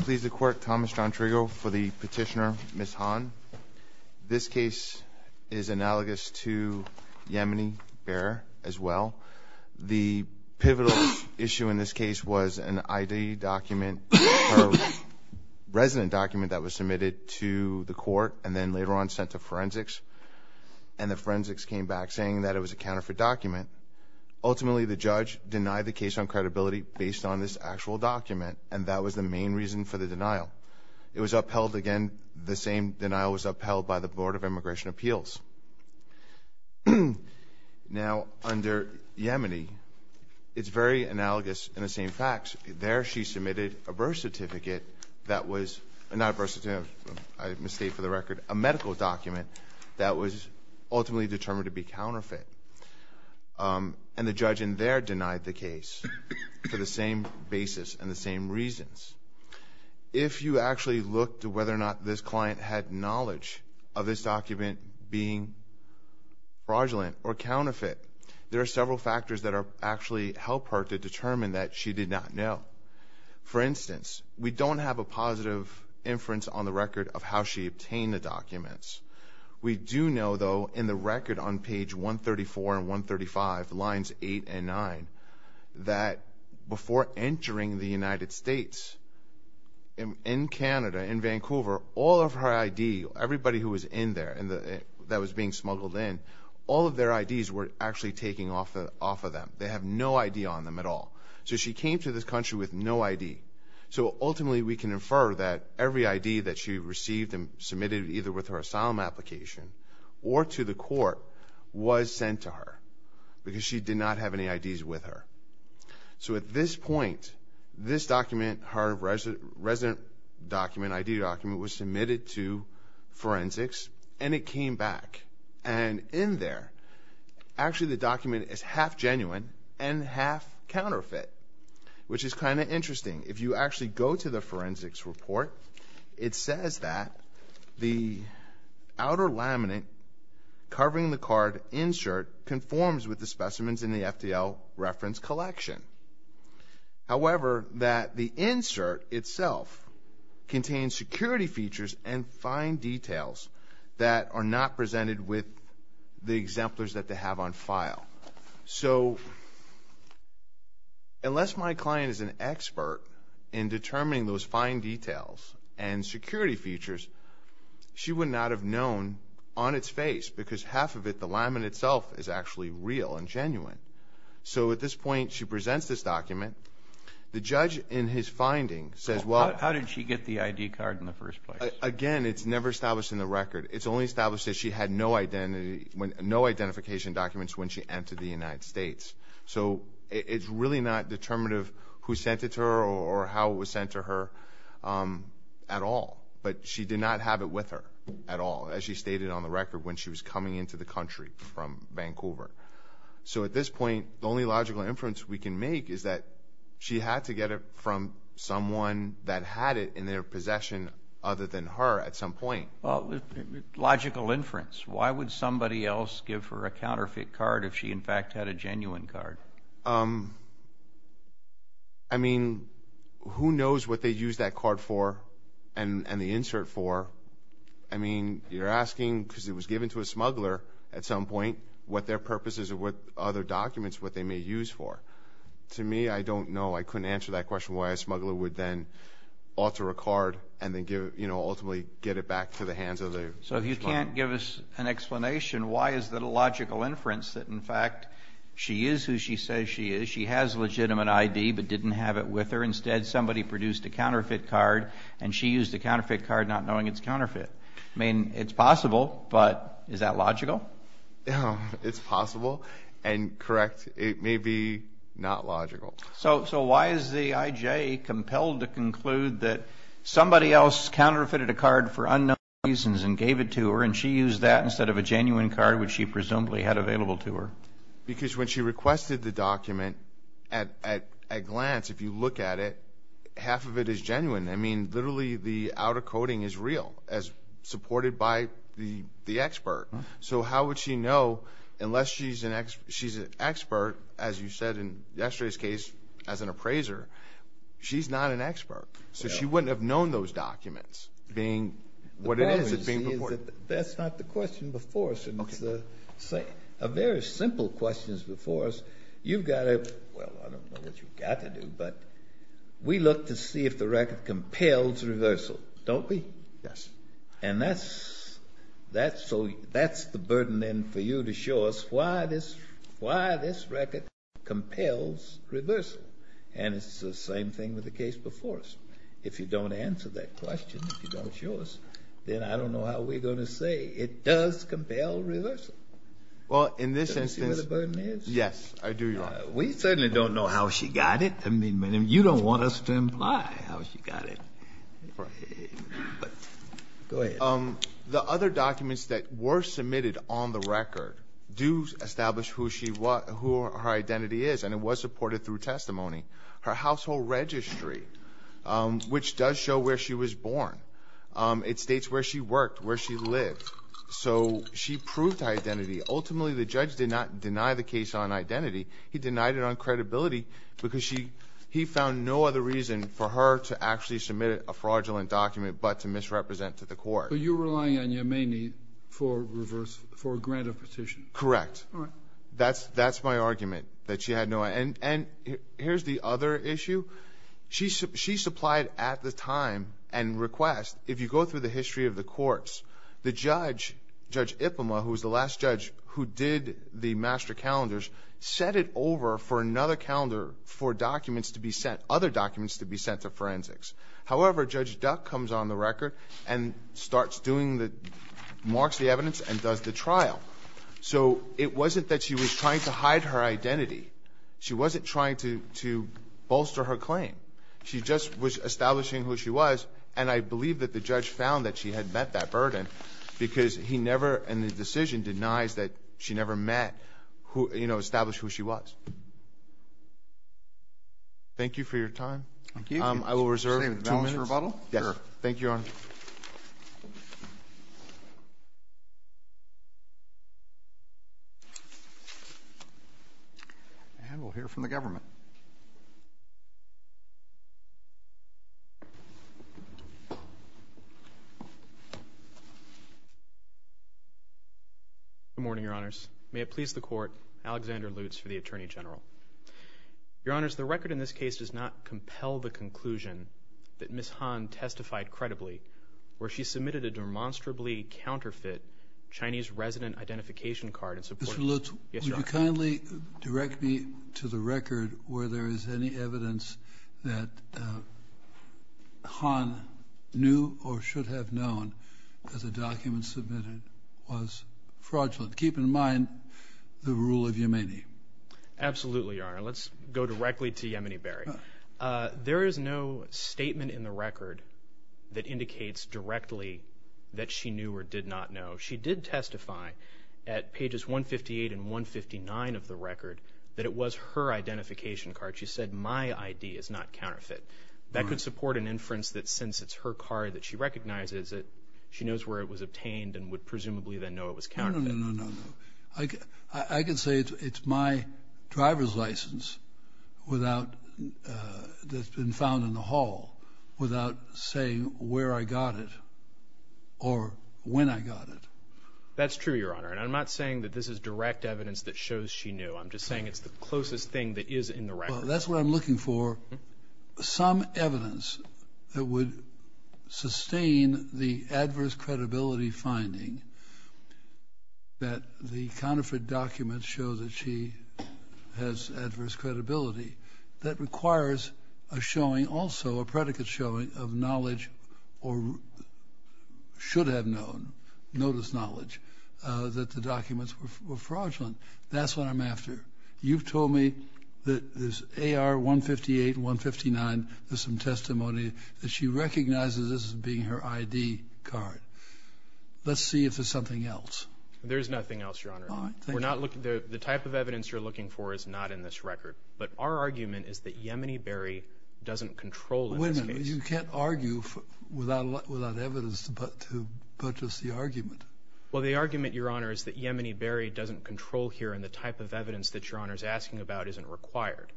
Please the court, Thomas John Trigo for the petitioner, Ms. Han. This case is analogous to Yemeni Bear as well. The pivotal issue in this case was an ID document, a resident document that was submitted to the court and then later on sent to forensics. And the forensics came back saying that it was a counterfeit document. Ultimately, the judge denied the case on credibility based on this actual document, and that was the main reason for the denial. It was upheld again, the same denial was upheld by the Board of Immigration Appeals. Now under Yemeni, it's very analogous in the same facts. There she submitted a birth certificate that was, not a birth certificate, I misstate for the record, a medical document that was ultimately determined to be counterfeit. And the judge in there denied the case for the same basis and the same reasons. If you actually look to whether or not this client had knowledge of this document being fraudulent or counterfeit, there are several factors that actually help her to determine that she did not know. For instance, we don't have a positive inference on the record of how she obtained the documents. We do know, though, in the record on page 134 and 135, lines 8 and 9, that before entering the United States, in Canada, in Vancouver, all of her ID, everybody who was in there that was being smuggled in, all of their IDs were actually taken off of them. They have no ID on them at all. So she came to this country with no ID. So ultimately we can infer that every ID that she received and submitted either with her asylum application or to the court was sent to her because she did not have any IDs with her. So at this point, this document, her resident document, ID document, was submitted to forensics and it came back. And in there, actually the document is half genuine and half counterfeit, which is kind of interesting. If you actually go to the forensics report, it says that the outer laminate covering the card insert conforms with the specimens in the FDL reference collection. However, that the insert itself contains security features and fine details that are not presented with the exemplars that they have on file. So unless my client is an expert in determining those fine details and security features, she would not have known on its face because half of it, the laminate itself, is actually real and genuine. So at this point, she presents this document. The judge, in his finding, says, well... How did she get the ID card in the first place? Again, it's never established in the record. It's only established that she had no identification documents when she entered the United States. So it's really not determinative who sent it to her or how it was sent to her at all. But she did not have it with her at all, as she stated on the record when she was coming into the country from Vancouver. So at this point, the only logical inference we can make is that she had to get it from someone that had it in their possession other than her at some point. Well, logical inference. Why would somebody else give her a counterfeit card if she, in fact, had a genuine card? I mean, who knows what they used that card for and the insert for? I mean, you're asking, because it was given to a smuggler at some point, what their purpose is or what other documents, what they may use for. To me, I don't know. I couldn't answer that question why a smuggler would then alter a card and then ultimately get it back to the hands of the smuggler. So if you can't give us an explanation, why is that a logical inference that, in fact, she is who she says she is? She has legitimate ID but didn't have it with her. Instead, somebody produced a counterfeit card and she used the counterfeit card not knowing its counterfeit. I mean, it's possible, but is that logical? It's possible and correct. It may be not logical. So why is the IJ compelled to conclude that somebody else counterfeited a card for unknown reasons and gave it to her and she used that instead of a genuine card which she presumably had available to her? Because when she requested the document, at a glance, if you look at it, half of it is genuine. I mean, literally, the outer coding is real as supported by the expert. So how would she know, unless she's an expert, as you said in yesterday's case, as an appraiser, she's not an expert. So she wouldn't have known those documents being what it is that's being reported. That's not the question before us, and it's a very simple question before us. You've got to, well, I don't know what you've got to do, but we look to see if the record compels reversal, don't we? Yes. And that's the burden, then, for you to show us why this record compels reversal. And it's the same thing with the case before us. If you don't answer that question, if you don't show us, then I don't know how we're going to say it does compel reversal. Well, in this instance, yes, I do. We certainly don't know how she got it. You don't want us to imply how she got it. The other documents that were submitted on the record do establish who her identity is, and it was supported through testimony. Her household registry, which does show where she was born. It states where she worked, where she lived. So she proved her identity. Ultimately, the judge did not deny the case on identity. He denied it on credibility because he found no other reason for her to actually submit a fraudulent document but to misrepresent to the court. But you're relying on Yemeni for a grant of petition. Correct. That's my argument, that she had no idea. And here's the other issue. She supplied at the time and request, if you go through the history of the courts, the submitted over for another calendar for documents to be sent, other documents to be sent to forensics. However, Judge Duck comes on the record and starts doing the, marks the evidence and does the trial. So it wasn't that she was trying to hide her identity. She wasn't trying to bolster her claim. She just was establishing who she was, and I believe that the judge found that she had met that burden because he never, in the decision, denies that she never met, you know, established who she was. Thank you for your time. Thank you. I will reserve two minutes. Same with balance rebuttal? Yes. Sure. Thank you, Your Honor. And we'll hear from the government. Good morning, Your Honors. May it please the Court, Alexander Lutz for the Attorney General. Your Honors, the record in this case does not compel the conclusion that Ms. Han testified credibly where she submitted a demonstrably counterfeit Chinese resident identification card in support. Mr. Lutz, would you kindly direct me to the record where there is any evidence that Han knew or should have known that the document submitted was fraudulent. But keep in mind the rule of Yemeni. Absolutely, Your Honor. Let's go directly to Yemeni Barry. There is no statement in the record that indicates directly that she knew or did not know. She did testify at pages 158 and 159 of the record that it was her identification card. She said, my ID is not counterfeit. That could support an inference that since it's her card that she recognizes it, she knows where it was obtained and would presumably then know it was counterfeit. No, no, no, no, no, no. I can say it's my driver's license without, that's been found in the hall without saying where I got it or when I got it. That's true, Your Honor. And I'm not saying that this is direct evidence that shows she knew. I'm just saying it's the closest thing that is in the record. That's what I'm looking for. Some evidence that would sustain the adverse credibility finding that the counterfeit documents show that she has adverse credibility that requires a showing also, a predicate showing of knowledge or should have known, notice knowledge, that the documents were fraudulent. That's what I'm after. You've told me that there's AR 158, 159, there's some testimony that she recognizes this as being her ID card. Let's see if there's something else. There's nothing else, Your Honor. All right. Thank you. We're not looking, the type of evidence you're looking for is not in this record. But our argument is that Yemeni Berry doesn't control in this case. Wait a minute. You can't argue without evidence to budge us the argument. Well, the argument, Your Honor, is that Yemeni Berry doesn't control here in the type of evidence that Your Honor is asking about isn't required.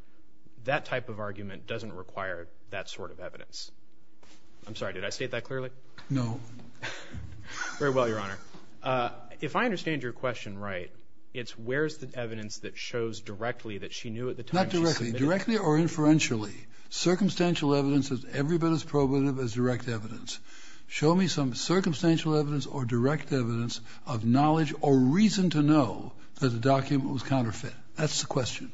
That type of argument doesn't require that sort of evidence. I'm sorry. Did I state that clearly? No. Very well, Your Honor. If I understand your question right, it's where's the evidence that shows directly that she knew at the time she submitted it. Not directly. Directly or inferentially. Circumstantial evidence is every bit as probative as direct evidence. Show me some circumstantial evidence or direct evidence of knowledge or reason to know that the document was counterfeit. That's the question.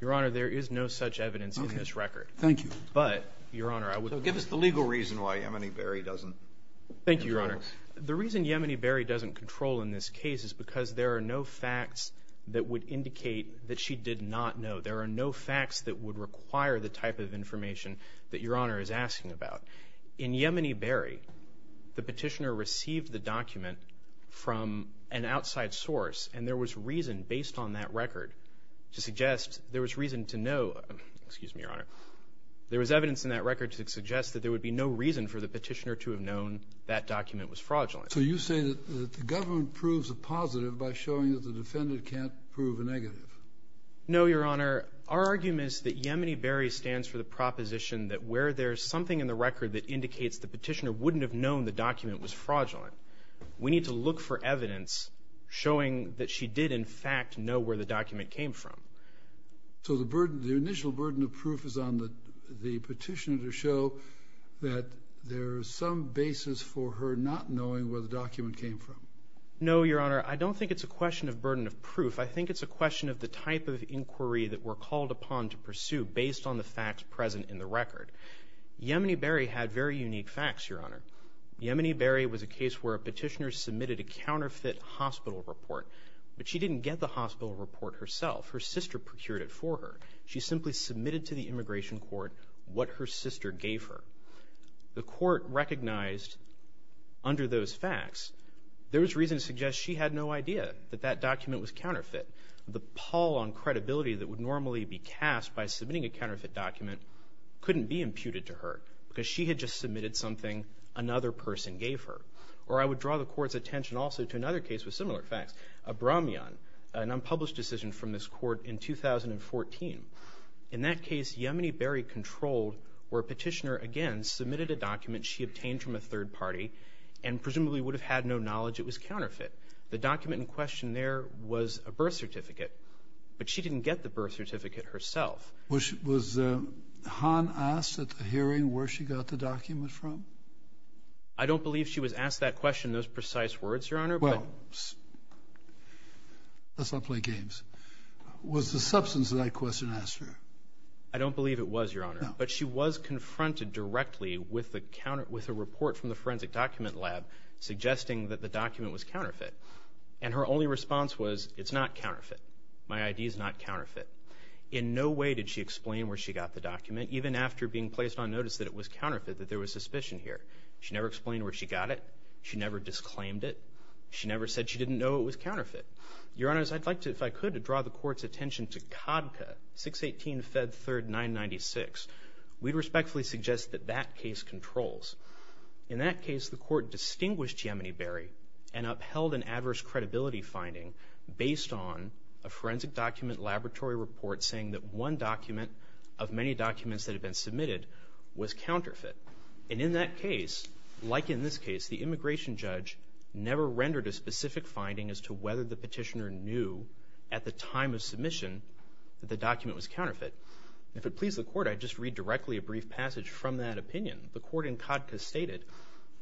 Your Honor, there is no such evidence in this record. Okay. Thank you. But, Your Honor, I would... So give us the legal reason why Yemeni Berry doesn't control. Thank you, Your Honor. The reason Yemeni Berry doesn't control in this case is because there are no facts that would indicate that she did not know. There are no facts that would require the type of information that Your Honor is asking about. In Yemeni Berry, the petitioner received the document from an outside source and there was reason based on that record to suggest, there was reason to know, excuse me, Your Honor. There was evidence in that record to suggest that there would be no reason for the petitioner to have known that document was fraudulent. So you say that the government proves a positive by showing that the defendant can't prove a negative. No, Your Honor. Our argument is that Yemeni Berry stands for the proposition that where there's something in the record that indicates the petitioner wouldn't have known the document was fraudulent, we need to look for evidence showing that she did, in fact, know where the document came from. So the initial burden of proof is on the petitioner to show that there is some basis for her not knowing where the document came from. No, Your Honor. I don't think it's a question of burden of proof. I think it's a question of the type of inquiry that we're called upon to pursue based on the facts present in the record. Yemeni Berry had very unique facts, Your Honor. Yemeni Berry was a case where a petitioner submitted a counterfeit hospital report, but she didn't get the hospital report herself. Her sister procured it for her. She simply submitted to the immigration court what her sister gave her. The court recognized, under those facts, there was reason to suggest she had no idea that that document was counterfeit. The pall on credibility that would normally be cast by submitting a counterfeit document couldn't be imputed to her because she had just submitted something another person gave her. Or I would draw the court's attention also to another case with similar facts, Abramian, an unpublished decision from this court in 2014. In that case, Yemeni Berry controlled where a petitioner, again, submitted a document she obtained from a third party and presumably would have had no knowledge it was counterfeit. The document in question there was a birth certificate, but she didn't get the birth certificate herself. Was Han asked at the hearing where she got the document from? I don't believe she was asked that question in those precise words, Your Honor, but... Well, let's not play games. Was the substance of that question asked her? I don't believe it was, Your Honor, but she was confronted directly with a report from the forensic document lab suggesting that the document was counterfeit. And her only response was, it's not counterfeit. My ID is not counterfeit. In no way did she explain where she got the document, even after being placed on notice that it was counterfeit, that there was suspicion here. She never explained where she got it. She never disclaimed it. She never said she didn't know it was counterfeit. Your Honors, I'd like to, if I could, draw the court's attention to CADCA, 618-Fed 3rd-996. We'd respectfully suggest that that case controls. In that case, the court distinguished Yemeni Berry and upheld an adverse credibility finding based on a forensic document laboratory report saying that one document of many documents that had been submitted was counterfeit. And in that case, like in this case, the immigration judge never rendered a specific finding as to whether the petitioner knew at the time of submission that the document was counterfeit. If it pleased the court, I'd just read directly a brief passage from that opinion. The court in CADCA stated,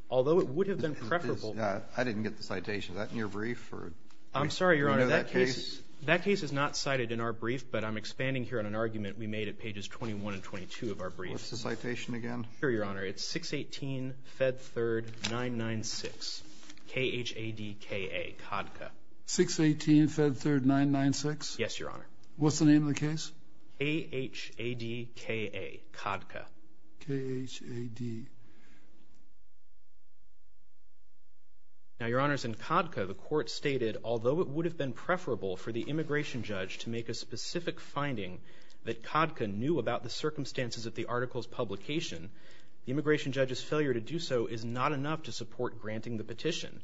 although it would have been preferable... I didn't get the citation. Is that in your brief, or...? I'm sorry, Your Honor, that case is not cited in our brief, but I'm expanding here on an argument we made at pages 21 and 22 of our brief. What's the citation again? Here, Your Honor. It's 618-Fed 3rd-996, K-H-A-D-K-A, CADCA. 618-Fed 3rd-996? Yes, Your Honor. What's the name of the case? K-H-A-D-K-A, CADCA. K-H-A-D... Now, Your Honors, in CADCA, the court stated, although it would have been preferable for the immigration judge to make a specific finding that CADCA knew about the circumstances of the article's publication, the immigration judge's failure to do so is not enough to support granting the petition.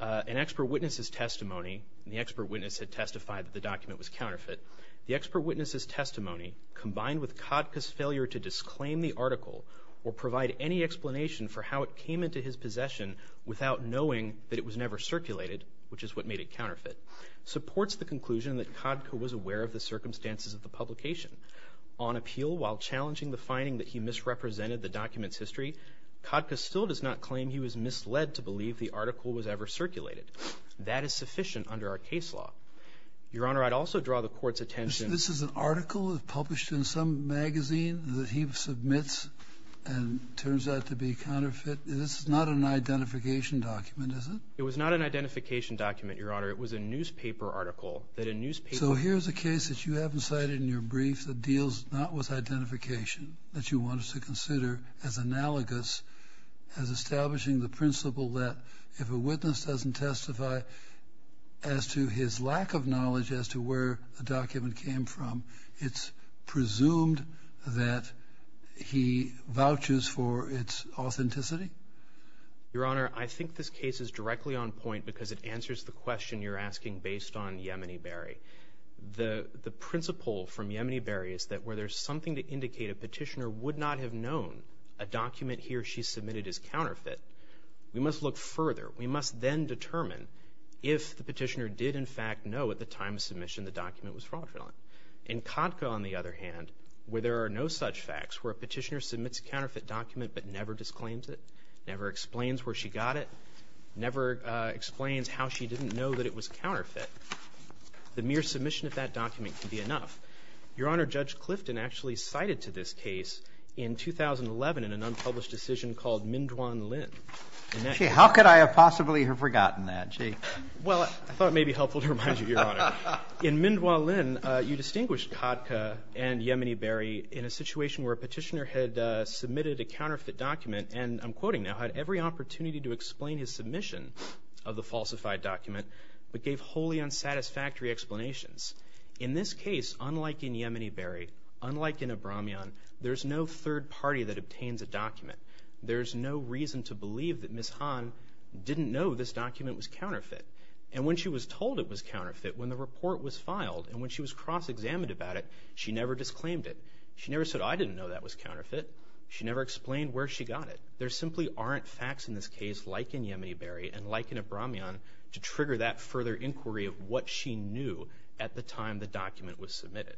An expert witness's testimony, and the expert witness had testified that the document was counterfeit, the expert witness's testimony, combined with CADCA's failure to disclaim the article or provide any explanation for how it came into his possession without knowing that it was never circulated, which is what made it counterfeit, supports the conclusion that CADCA was aware of the circumstances of the publication. On appeal, while challenging the finding that he misrepresented the document's history, CADCA still does not claim he was misled to believe the article was ever circulated. That is sufficient under our case law. Your Honor, I'd also draw the court's attention... This is an article published in some magazine that he submits and turns out to be counterfeit? This is not an identification document, is it? It was not an identification document, Your Honor. It was a newspaper article that a newspaper... So here's a case that you haven't cited in your brief that deals not with identification, that you want us to consider as analogous as establishing the principle that if a witness doesn't testify as to his lack of knowledge as to where the document came from, it's presumed that he vouches for its authenticity? Your Honor, I think this case is directly on point because it answers the question you're asking based on Yemeniberry. The principle from Yemeniberry is that where there's something to indicate a petitioner would not have known a document he or she submitted is counterfeit, we must look further. We must then determine if the petitioner did, in fact, know at the time of submission the document was fraudulent. In Katka, on the other hand, where there are no such facts, where a petitioner submits a counterfeit document but never disclaims it, never explains where she got it, never explains how she didn't know that it was counterfeit, the mere submission of that document can be enough. Your Honor, Judge Clifton actually cited to this case in 2011 in an unpublished decision called Minduan Lin. Gee, how could I have possibly have forgotten that, gee? Well, I thought it may be helpful to remind you, Your Honor. In Minduan Lin, you distinguished Katka and Yemeniberry in a situation where a petitioner had submitted a counterfeit document and, I'm quoting now, had every opportunity to explain his submission of the falsified document but gave wholly unsatisfactory explanations. In this case, unlike in Yemeniberry, unlike in Abramian, there's no third party that obtains a document. There's no reason to believe that Ms. Han didn't know this document was counterfeit. And when she was told it was counterfeit when the report was filed and when she was cross-examined about it, she never disclaimed it. She never said, I didn't know that was counterfeit. She never explained where she got it. There simply aren't facts in this case like in Yemeniberry and like in Abramian to trigger that further inquiry of what she knew at the time the document was submitted.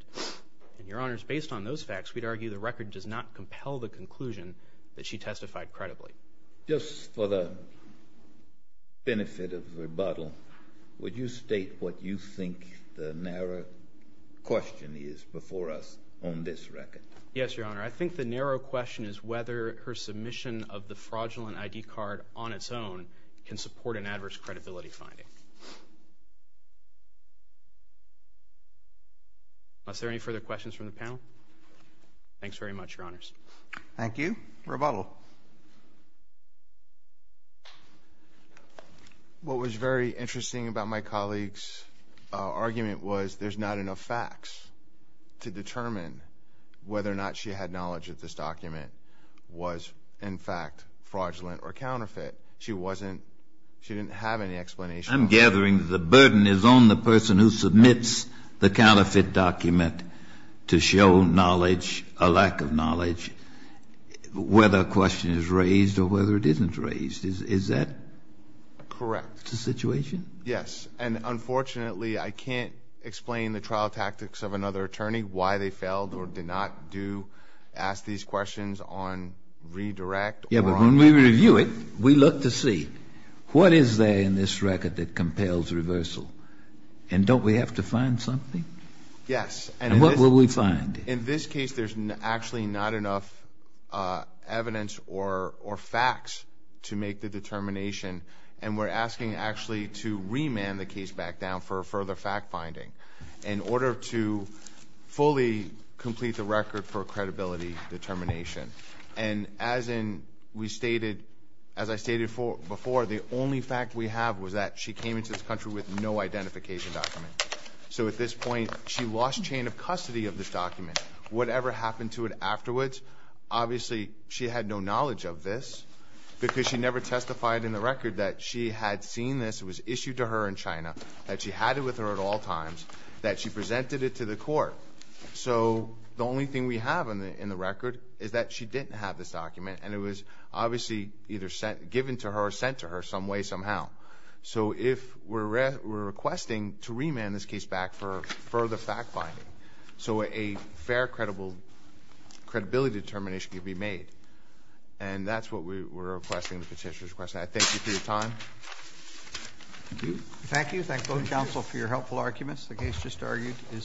And, Your Honors, based on those facts, we'd argue the record does not compel the conclusion that she testified credibly. Just for the benefit of rebuttal, would you state what you think the narrow question is before us on this record? Yes, Your Honor. I think the narrow question is whether her submission of the fraudulent ID card on its own can support an adverse credibility finding. Are there any further questions from the panel? Thanks very much, Your Honors. Thank you. Rebuttal. What was very interesting about my colleague's argument was there's not enough facts to determine whether or not she had knowledge of this document was in fact fraudulent or counterfeit. She wasn't, she didn't have any explanation. I'm gathering the burden is on the person who submits the counterfeit document to show knowledge, a lack of knowledge, whether a question is raised or whether it isn't raised. Is that correct, the situation? Yes. And, unfortunately, I can't explain the trial tactics of another attorney, why they failed or did not do, ask these questions on redirect. Yeah, but when we review it, we look to see what is there in this record that compels reversal? And don't we have to find something? Yes. And what will we find? In this case, there's actually not enough evidence or facts to make the determination. And we're asking actually to remand the case back down for further fact finding in order to fully complete the record for credibility determination. And as in, we stated, as I stated before, the only fact we have was that she came into this country with no identification document. So, at this point, she lost chain of custody of this document. Whatever happened to it afterwards, obviously, she had no knowledge of this because she never testified in the record that she had seen this. It was issued to her in China, that she had it with her at all times, that she presented it to the court. So, the only thing we have in the record is that she didn't have this document. And it was obviously either given to her or sent to her some way, somehow. So, if we're requesting to remand this case back for further fact finding so a fair credibility determination can be made. And that's what we're requesting, the petitioner's request. I thank you for your time. Thank you. Thank both counsel for your helpful arguments. The case just argued is submitted.